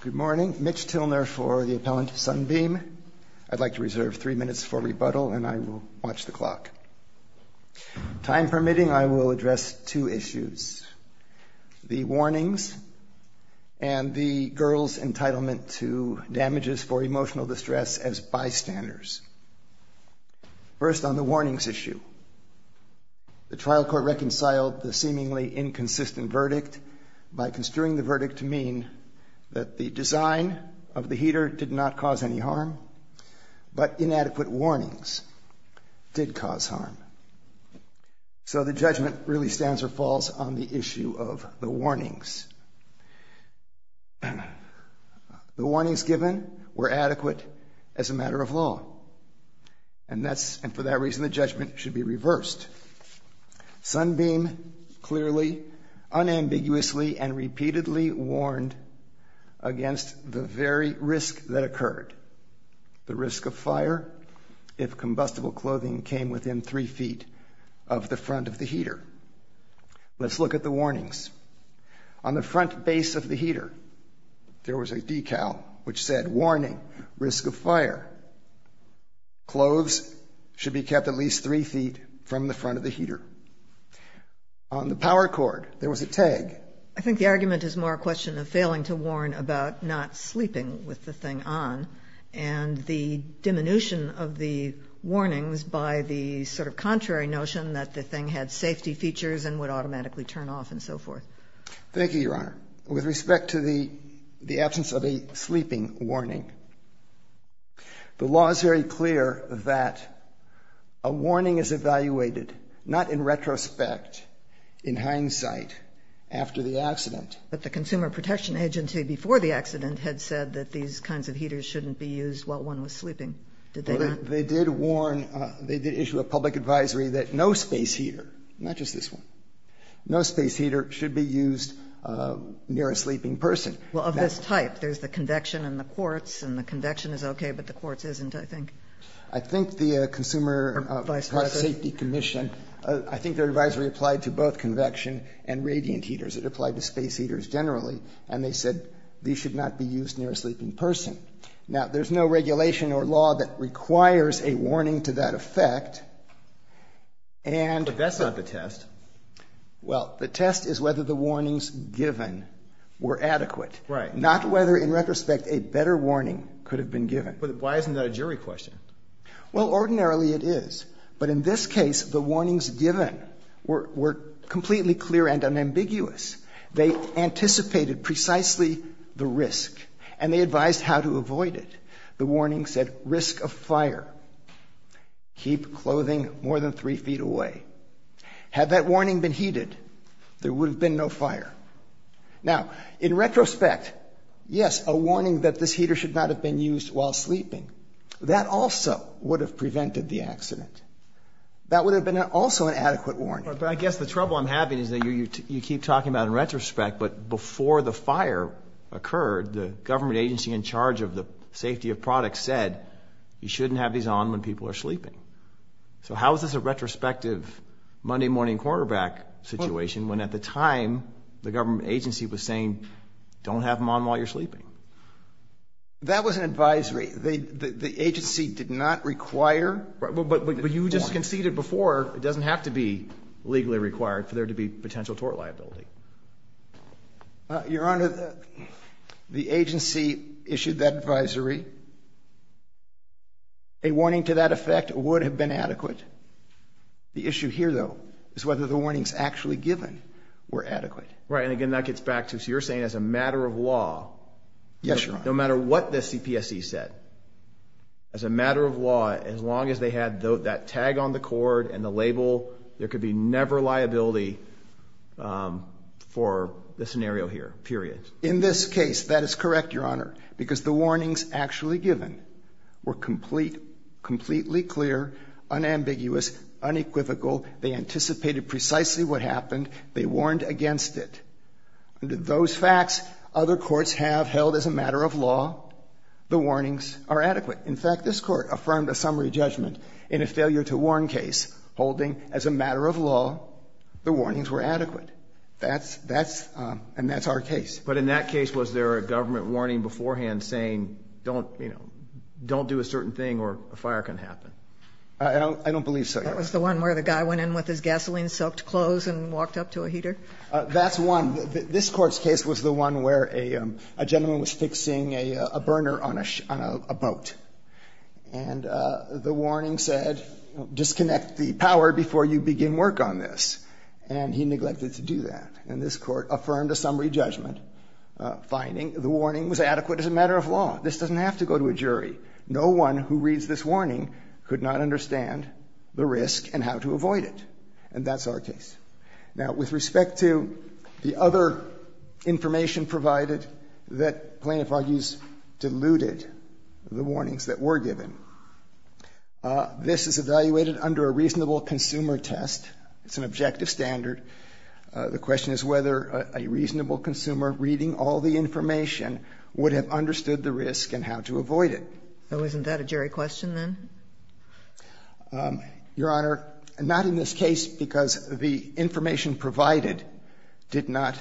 Good morning. Mitch Tilner for the Appellant Sunbeam. I'd like to reserve three minutes for rebuttal and I will watch the clock. Time permitting, I will address two issues. The warnings and the girl's entitlement to damages for emotional distress as bystanders. First, on the warnings issue. The trial court reconciled the seemingly inconsistent verdict by construing the verdict to mean that the design of the heater did not cause any harm but inadequate warnings did cause harm. So the judgment really stands or falls on the issue of the warnings. The warnings given were adequate as a matter of law and for that reason the judgment should be reversed. Sunbeam clearly, unambiguously and repeatedly warned against the very risk that occurred. The risk of fire if combustible clothing came within three feet of the front of the heater. Let's look at the warnings. On the front base of the heater there was a decal which said warning risk of fire. Clothes should be kept at least three feet from the front of the heater. On the power cord there was a tag. I think the argument is more a question of failing to warn about not sleeping with the thing on and the diminution of the warnings by the sort of contrary notion that the thing had safety features and would automatically turn off and so forth. Thank you, Your Honor. With respect to the absence of a sleeping warning, the law is very clear that a warning is evaluated not in retrospect, in hindsight, after the accident. But the Consumer Protection Agency before the accident had said that these kinds of heaters shouldn't be used while one was sleeping. Did they not? They did warn, they did issue a public advisory that no space heater, not just this one, no space heater should be used near a sleeping person. Well, of this type. There's the convection and the quartz, and the convection is okay, but the quartz isn't, I think. I think the Consumer Safety Commission, I think their advisory applied to both convection and radiant heaters. It applied to space heaters generally. And they said these should not be used near a sleeping person. Now, there's no regulation or law that requires a warning to that effect. But that's not the test. Well, the test is whether the warnings given were adequate. Right. Not whether, in retrospect, a better warning could have been given. Why isn't that a jury question? Well, ordinarily it is. But in this case, the warnings given were completely clear and unambiguous. They anticipated precisely the risk, and they advised how to avoid it. The warning said, risk of fire. Keep clothing more than three feet away. Had that warning been heated, there would have been no fire. Now, in retrospect, yes, a warning that this heater should not have been used while sleeping, that also would have prevented the accident. That would have been also an adequate warning. But I guess the trouble I'm having is that you keep talking about in retrospect, but before the fire occurred, the government agency in charge of the safety of products said you shouldn't have these on when people are sleeping. So how is this a retrospective Monday morning quarterback situation when, at the time, the government agency was saying don't have them on while you're sleeping? That was an advisory. The agency did not require the warning. But you just conceded before. It doesn't have to be legally required for there to be potential tort liability. Your Honor, the agency issued that advisory. A warning to that effect would have been adequate. The issue here, though, is whether the warnings actually given were adequate. Right, and again, that gets back to, so you're saying as a matter of law, no matter what the CPSC said, as a matter of law, as long as they had that tag on the cord and the label, there could be never liability for the scenario here, period. In this case, that is correct, Your Honor, because the warnings actually given were complete, completely clear, unambiguous, unequivocal. They anticipated precisely what happened. They warned against it. Those facts other courts have held as a matter of law, the warnings are adequate. In fact, this court affirmed a summary judgment in a failure to warn case, holding as a matter of law the warnings were adequate. And that's our case. But in that case, was there a government warning beforehand saying don't do a certain thing or a fire can happen? I don't believe so, Your Honor. That was the one where the guy went in with his gasoline-soaked clothes and walked up to a heater? That's one. This Court's case was the one where a gentleman was fixing a burner on a boat, and the warning said disconnect the power before you begin work on this, and he neglected to do that. And this Court affirmed a summary judgment, finding the warning was adequate as a matter of law. This doesn't have to go to a jury. No one who reads this warning could not understand the risk and how to avoid it. And that's our case. Now, with respect to the other information provided, that plaintiff argues diluted the warnings that were given. This is evaluated under a reasonable consumer test. It's an objective standard. The question is whether a reasonable consumer reading all the information would have understood the risk and how to avoid it. So isn't that a jury question, then? Your Honor, not in this case because the information provided did not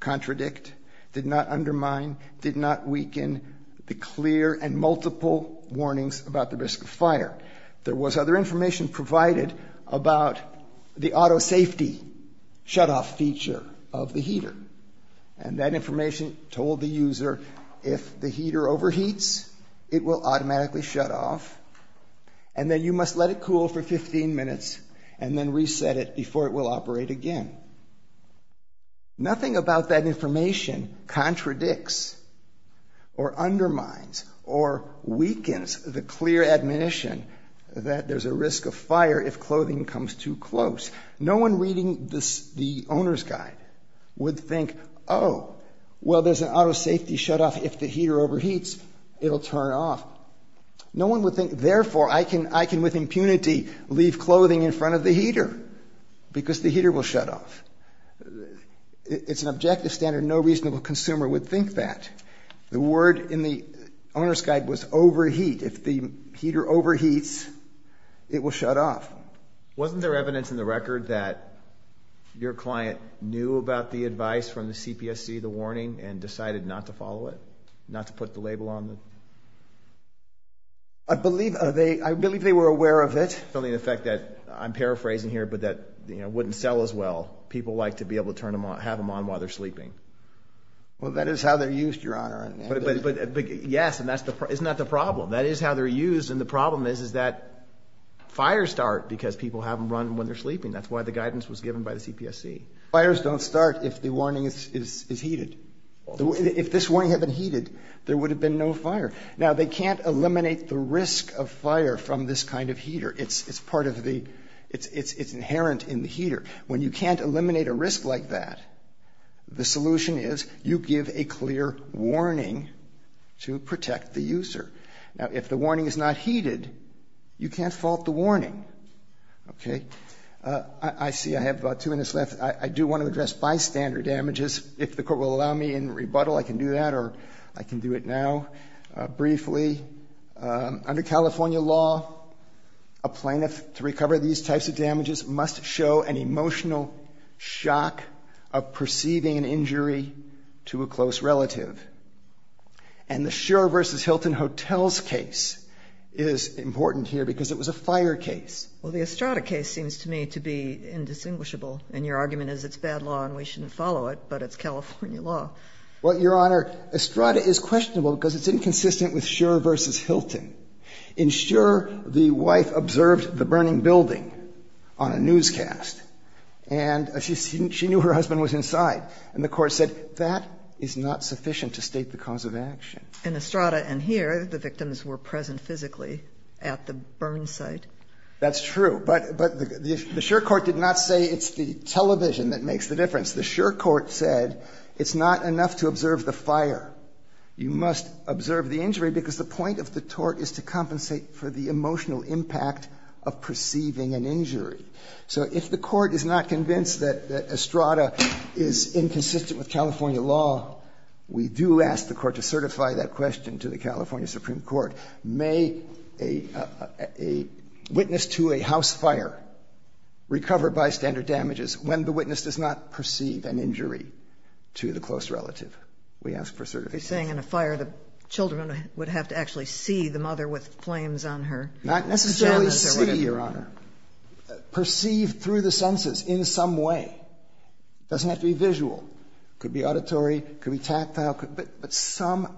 contradict, did not undermine, did not weaken the clear and multiple warnings about the risk of fire. There was other information provided about the auto safety shutoff feature of the heater. And that information told the user if the heater overheats, it will automatically shut off, and then you must let it cool for 15 minutes and then reset it before it will operate again. Nothing about that information contradicts or undermines or weakens the clear admonition that there's a risk of fire if clothing comes too close. No one reading the owner's guide would think, oh, well, there's an auto safety shutoff. If the heater overheats, it will turn off. No one would think, therefore, I can with impunity leave clothing in front of the heater because the heater will shut off. It's an objective standard. No reasonable consumer would think that. The word in the owner's guide was overheat. If the heater overheats, it will shut off. Wasn't there evidence in the record that your client knew about the advice from the CPSC to follow it, not to put the label on it? I believe they were aware of it. I'm paraphrasing here, but that wouldn't sell as well. People like to be able to have them on while they're sleeping. Well, that is how they're used, Your Honor. Yes, and that's not the problem. That is how they're used, and the problem is that fires start because people have them run when they're sleeping. That's why the guidance was given by the CPSC. Fires don't start if the warning is heated. If this warning had been heated, there would have been no fire. Now, they can't eliminate the risk of fire from this kind of heater. It's part of the ‑‑ it's inherent in the heater. When you can't eliminate a risk like that, the solution is you give a clear warning to protect the user. Now, if the warning is not heated, you can't fault the warning. Okay? I see I have about two minutes left. I do want to address bystander damages. If the Court will allow me in rebuttal, I can do that, or I can do it now briefly. Under California law, a plaintiff, to recover these types of damages, must show an emotional shock of perceiving an injury to a close relative. And the Schur v. Hilton Hotels case is important here because it was a fire case. Well, the Estrada case seems to me to be indistinguishable. And your argument is it's bad law and we shouldn't follow it, but it's California law. Well, Your Honor, Estrada is questionable because it's inconsistent with Schur v. Hilton. In Schur, the wife observed the burning building on a newscast, and she knew her husband was inside. And the Court said that is not sufficient to state the cause of action. In Estrada and here, the victims were present physically at the burn site. That's true. But the Schur court did not say it's the television that makes the difference. The Schur court said it's not enough to observe the fire. You must observe the injury because the point of the tort is to compensate for the emotional impact of perceiving an injury. So if the Court is not convinced that Estrada is inconsistent with California law, we do ask the Court to certify that question to the California Supreme Court. May a witness to a house fire recover by standard damages when the witness does not perceive an injury to the close relative? We ask for certifications. You're saying in a fire the children would have to actually see the mother with flames on her genitals or whatever? Not necessarily see, Your Honor. Perceive through the senses in some way. It doesn't have to be visual. It could be auditory. It could be tactile. But some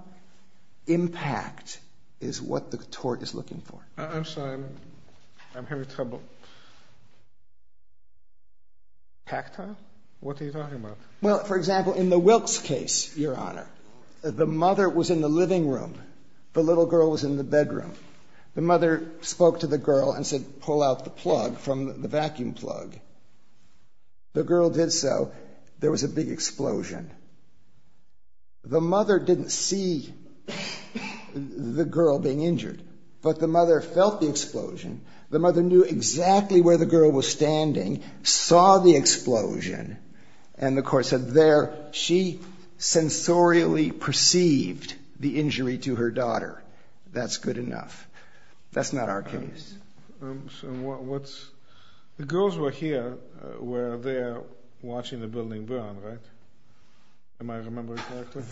impact is what the tort is looking for. I'm sorry. I'm having trouble. Tactile? What are you talking about? Well, for example, in the Wilkes case, Your Honor, the mother was in the living room. The little girl was in the bedroom. The mother spoke to the girl and said pull out the plug from the vacuum plug. The girl did so. There was a big explosion. The mother didn't see the girl being injured. But the mother felt the explosion. The mother knew exactly where the girl was standing, saw the explosion, and the court said there she sensorially perceived the injury to her daughter. That's good enough. That's not our case. The girls were here where they are watching the building burn, right? Am I remembering correctly?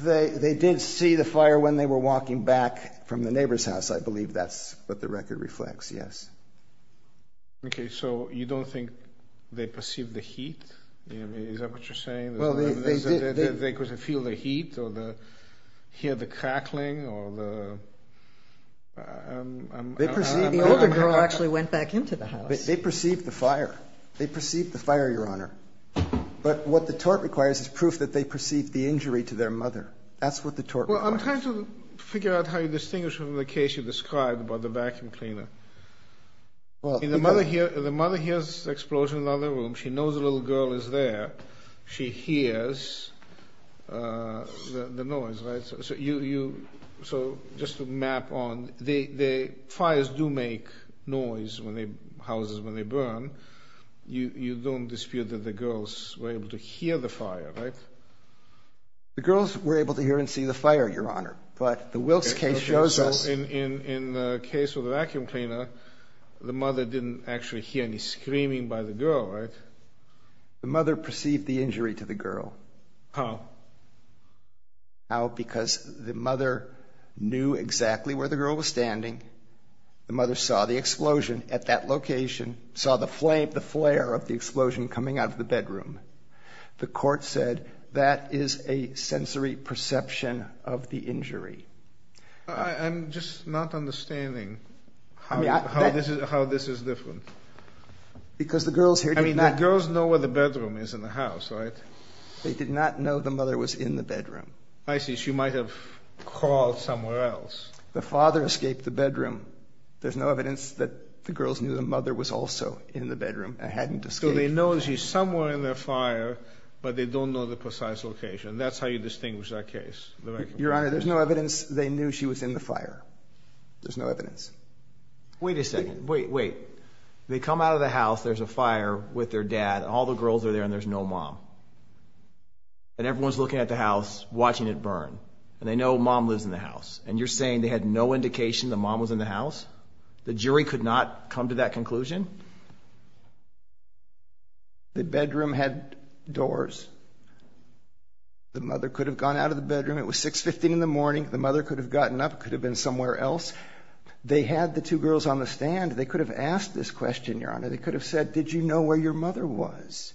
They did see the fire when they were walking back from the neighbor's house, I believe. That's what the record reflects, yes. Okay. So you don't think they perceived the heat? Is that what you're saying? They could feel the heat or hear the crackling? The older girl actually went back into the house. They perceived the fire. They perceived the fire, Your Honor. But what the tort requires is proof that they perceived the injury to their mother. That's what the tort requires. Well, I'm trying to figure out how you distinguish from the case you described about the vacuum cleaner. The mother hears the explosion in the other room. She knows the little girl is there. She hears the noise, right? So just to map on, the fires do make noise in the houses when they burn. You don't dispute that the girls were able to hear the fire, right? The girls were able to hear and see the fire, Your Honor. But the Wilkes case shows us. In the case of the vacuum cleaner, the mother didn't actually hear any screaming by the girl, right? The mother perceived the injury to the girl. How? How? Because the mother knew exactly where the girl was standing. The mother saw the explosion at that location, saw the flare of the explosion coming out of the bedroom. The court said that is a sensory perception of the injury. I'm just not understanding how this is different. Because the girls here did not. I mean, the girls know where the bedroom is in the house, right? They did not know the mother was in the bedroom. I see. She might have crawled somewhere else. The father escaped the bedroom. There's no evidence that the girls knew the mother was also in the bedroom and hadn't escaped. So they know she's somewhere in their fire, but they don't know the precise location. That's how you distinguish that case. Your Honor, there's no evidence they knew she was in the fire. There's no evidence. Wait a second. Wait, wait. They come out of the house. There's a fire with their dad. All the girls are there and there's no mom. And everyone's looking at the house, watching it burn. And they know mom lives in the house. And you're saying they had no indication the mom was in the house? The jury could not come to that conclusion? The bedroom had doors. The mother could have gone out of the bedroom. It was 6.15 in the morning. The mother could have gotten up, could have been somewhere else. They had the two girls on the stand. They could have asked this question, Your Honor. They could have said, did you know where your mother was?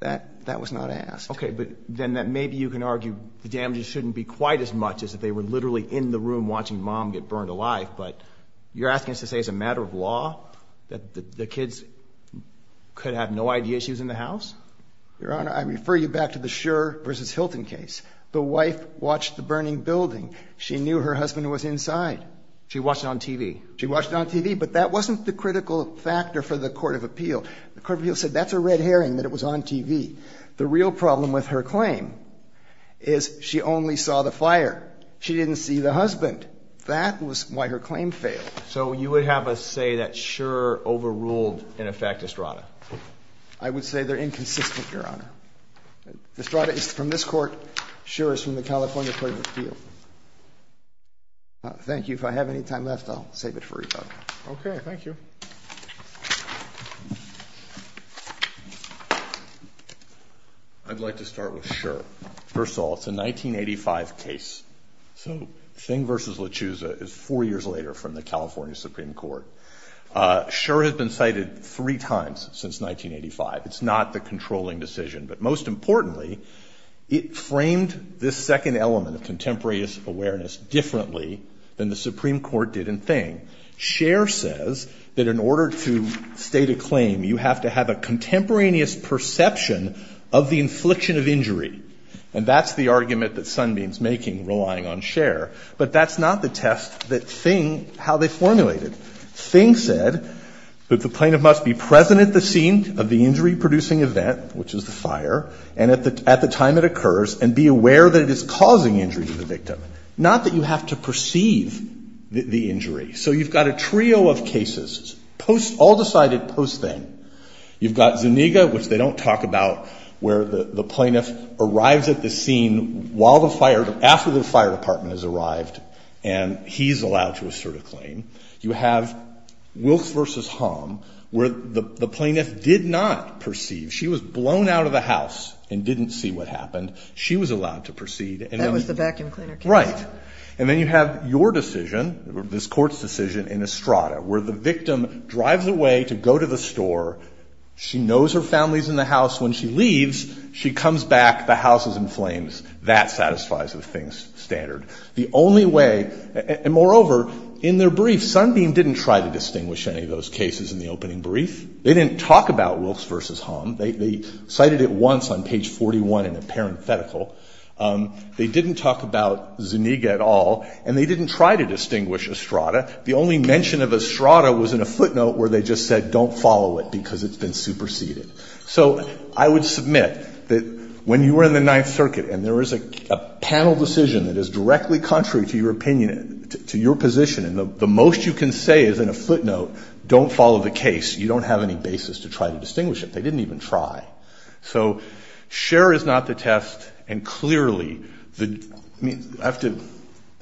That was not asked. Okay, but then maybe you can argue the damages shouldn't be quite as much as if they were literally in the room watching mom get burned alive. But you're asking us to say it's a matter of law, that the kids could have no idea she was in the house? Your Honor, I refer you back to the Schur v. Hilton case. The wife watched the burning building. She knew her husband was inside. She watched it on TV. She watched it on TV. But that wasn't the critical factor for the court of appeal. The court of appeal said that's a red herring, that it was on TV. The real problem with her claim is she only saw the fire. She didn't see the husband. That was why her claim failed. So you would have us say that Schur overruled, in effect, Estrada? I would say they're inconsistent, Your Honor. Estrada is from this court. Schur is from the California court of appeal. Thank you. If I have any time left, I'll save it for you. Okay. Thank you. I'd like to start with Schur. First of all, it's a 1985 case. So Hilton v. LaChiusa is four years later from the California Supreme Court. Schur has been cited three times since 1985. It's not the controlling decision. But most importantly, it framed this second element of contemporaneous awareness differently than the Supreme Court did in Thing. Schur says that in order to state a claim, you have to have a contemporaneous perception of the infliction of injury. And that's the argument that Sunbeam is making, relying on Schur. But that's not the test that Thing, how they formulated. Thing said that the plaintiff must be present at the scene of the injury-producing event, which is the fire, and at the time it occurs, and be aware that it is causing injury to the victim. Not that you have to perceive the injury. So you've got a trio of cases, all decided post-Thing. You've got Zuniga, which they don't talk about, where the plaintiff arrives at the scene after the fire department has arrived, and he's allowed to assert a claim. You have Wilkes v. Hom, where the plaintiff did not perceive. She was blown out of the house and didn't see what happened. She was allowed to perceive. That was the vacuum cleaner case. Right. And then you have your decision, this Court's decision, in Estrada, where the victim drives away to go to the store. She knows her family is in the house. When she leaves, she comes back, the house is in flames. That satisfies the Thing's standard. The only way, and moreover, in their brief, Sunbeam didn't try to distinguish any of those cases in the opening brief. They didn't talk about Wilkes v. Hom. They cited it once on page 41 in a parenthetical. They didn't talk about Zuniga at all, and they didn't try to distinguish Estrada. The only mention of Estrada was in a footnote where they just said, don't follow it because it's been superseded. So I would submit that when you were in the Ninth Circuit and there was a panel decision that is directly contrary to your opinion, to your position, and the most you can say is in a footnote, don't follow the case, you don't have any basis to try to distinguish it. They didn't even try. So Scher is not the test, and clearly the – I mean, I have to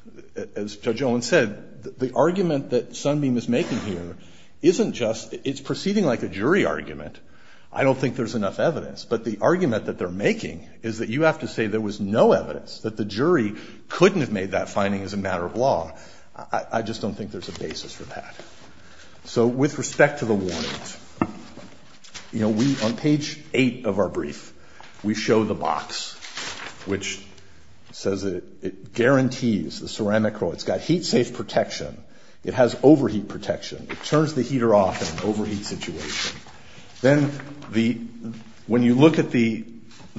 – as Judge Owen said, the argument that Sunbeam is making here isn't just – it's proceeding like a jury argument. I don't think there's enough evidence. But the argument that they're making is that you have to say there was no evidence, that the jury couldn't have made that finding as a matter of law. I just don't think there's a basis for that. So with respect to the warnings, you know, we – on page 8 of our brief, we show the box, which says it guarantees the ceramic – it's got heat-safe protection. It has overheat protection. It turns the heater off in an overheat situation. Then the – when you look at the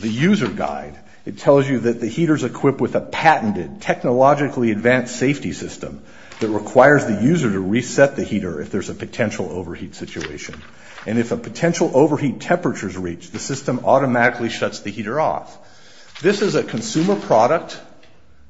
user guide, it tells you that the heater's equipped with a patented, technologically advanced safety system that requires the user to reset the heater if there's a potential overheat situation. And if a potential overheat temperature is reached, the system automatically shuts the heater off. This is a consumer product.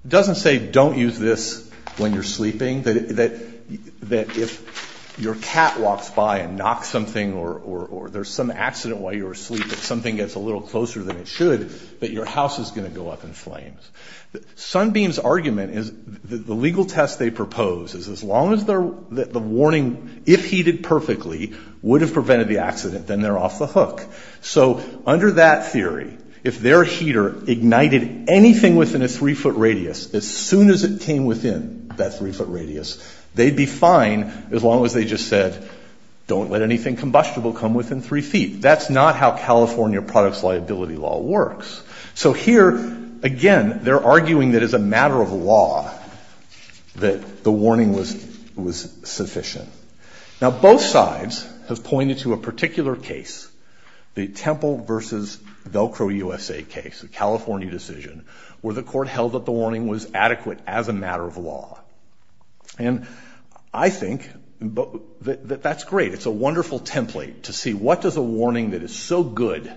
It doesn't say don't use this when you're sleeping, that if your cat walks by and knocks something or there's some accident while you're asleep, if something gets a little closer than it should, that your house is going to go up in flames. Sunbeam's argument is the legal test they propose is as long as the warning, if heated perfectly, would have prevented the accident, then they're off the hook. So under that theory, if their heater ignited anything within a three-foot radius, as soon as it came within that three-foot radius, they'd be fine as long as they just said don't let anything combustible come within three feet. That's not how California products liability law works. So here, again, they're arguing that as a matter of law that the warning was sufficient. Now, both sides have pointed to a particular case, the Temple versus Velcro USA case, a California decision, where the court held that the warning was adequate as a matter of law. And I think that that's great. It's a wonderful template to see what does a warning that is so good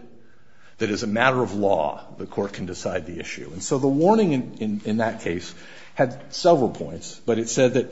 that as a matter of law the court can decide the issue. And so the warning in that case had several points, but it said that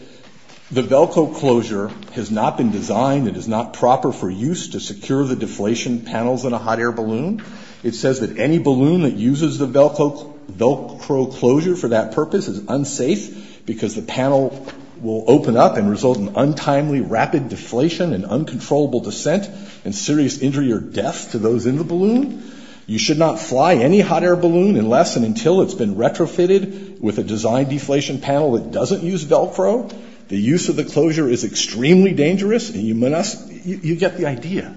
the Velcro closure has not been designed and is not proper for use to secure the deflation panels in a hot air balloon. It says that any balloon that uses the Velcro closure for that purpose is unsafe because the panel will open up and result in untimely rapid deflation and uncontrollable descent and serious injury or death to those in the balloon. You should not fly any hot air balloon unless and until it's been retrofitted with a designed deflation panel that doesn't use Velcro. The use of the closure is extremely dangerous. You get the idea.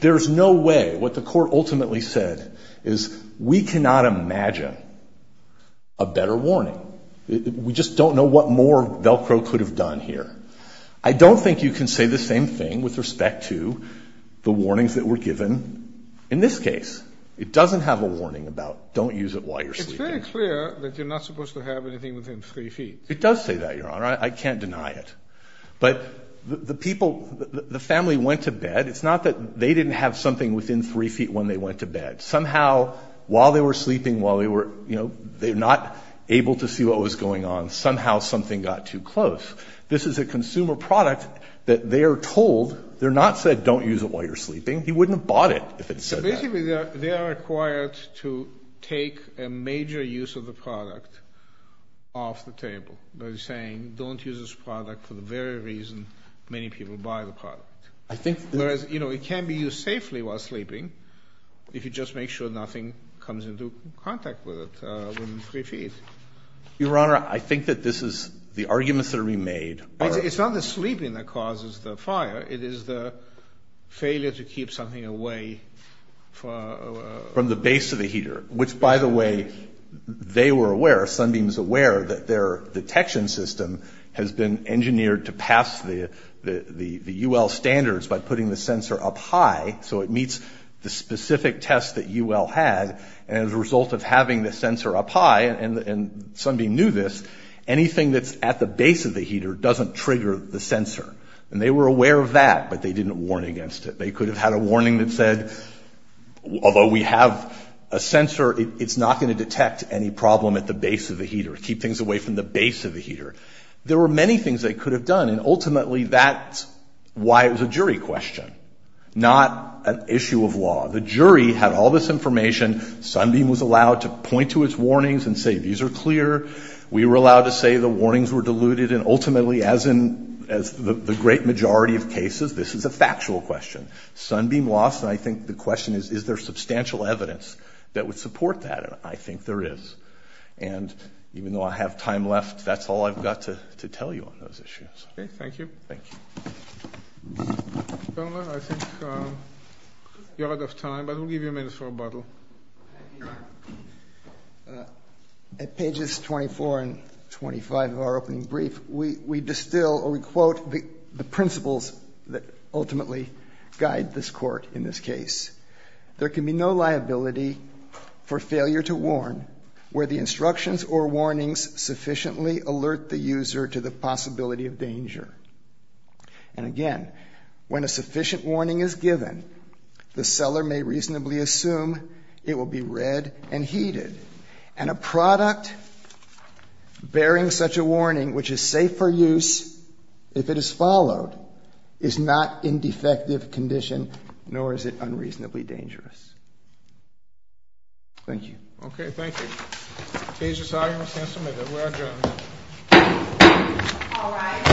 There's no way. What the court ultimately said is we cannot imagine a better warning. We just don't know what more Velcro could have done here. I don't think you can say the same thing with respect to the warnings that were given in this case. It doesn't have a warning about don't use it while you're sleeping. It's very clear that you're not supposed to have anything within three feet. It does say that, Your Honor. I can't deny it. But the people, the family went to bed. While they were sleeping, they were not able to see what was going on. Somehow something got too close. This is a consumer product that they are told. They're not said don't use it while you're sleeping. He wouldn't have bought it if it said that. Basically, they are required to take a major use of the product off the table by saying don't use this product for the very reason many people buy the product. Whereas, you know, it can be used safely while sleeping if you just make sure nothing comes into contact with it within three feet. Your Honor, I think that this is the arguments that are being made. It's not the sleeping that causes the fire. It is the failure to keep something away from the base of the heater, which, by the way, they were aware, Sunbeam's aware, that their detection system has been engineered to pass the UL standards by putting the sensor up high so it meets the specific test that UL had. And as a result of having the sensor up high, and Sunbeam knew this, anything that's at the base of the heater doesn't trigger the sensor. And they were aware of that, but they didn't warn against it. They could have had a warning that said, although we have a sensor, it's not going to detect any problem at the base of the heater. Keep things away from the base of the heater. There were many things they could have done, and ultimately that's why it was a jury question, not an issue of law. The jury had all this information. Sunbeam was allowed to point to its warnings and say, these are clear. We were allowed to say the warnings were diluted. And ultimately, as in the great majority of cases, this is a factual question. Sunbeam lost, and I think the question is, is there substantial evidence that would support that? And I think there is. And even though I have time left, that's all I've got to tell you on those issues. Okay, thank you. Thank you. Governor, I think you're out of time, but we'll give you a minute for rebuttal. At pages 24 and 25 of our opening brief, we distill or we quote the principles that ultimately guide this court in this case. There can be no liability for failure to warn where the instructions or warnings sufficiently alert the user to the possibility of danger. And again, when a sufficient warning is given, the seller may reasonably assume it will be read and heated. And a product bearing such a warning, which is safe for use if it is followed, is not in defective condition, nor is it unreasonably dangerous. Thank you. Okay, thank you. Page 5. We're adjourned. All rise.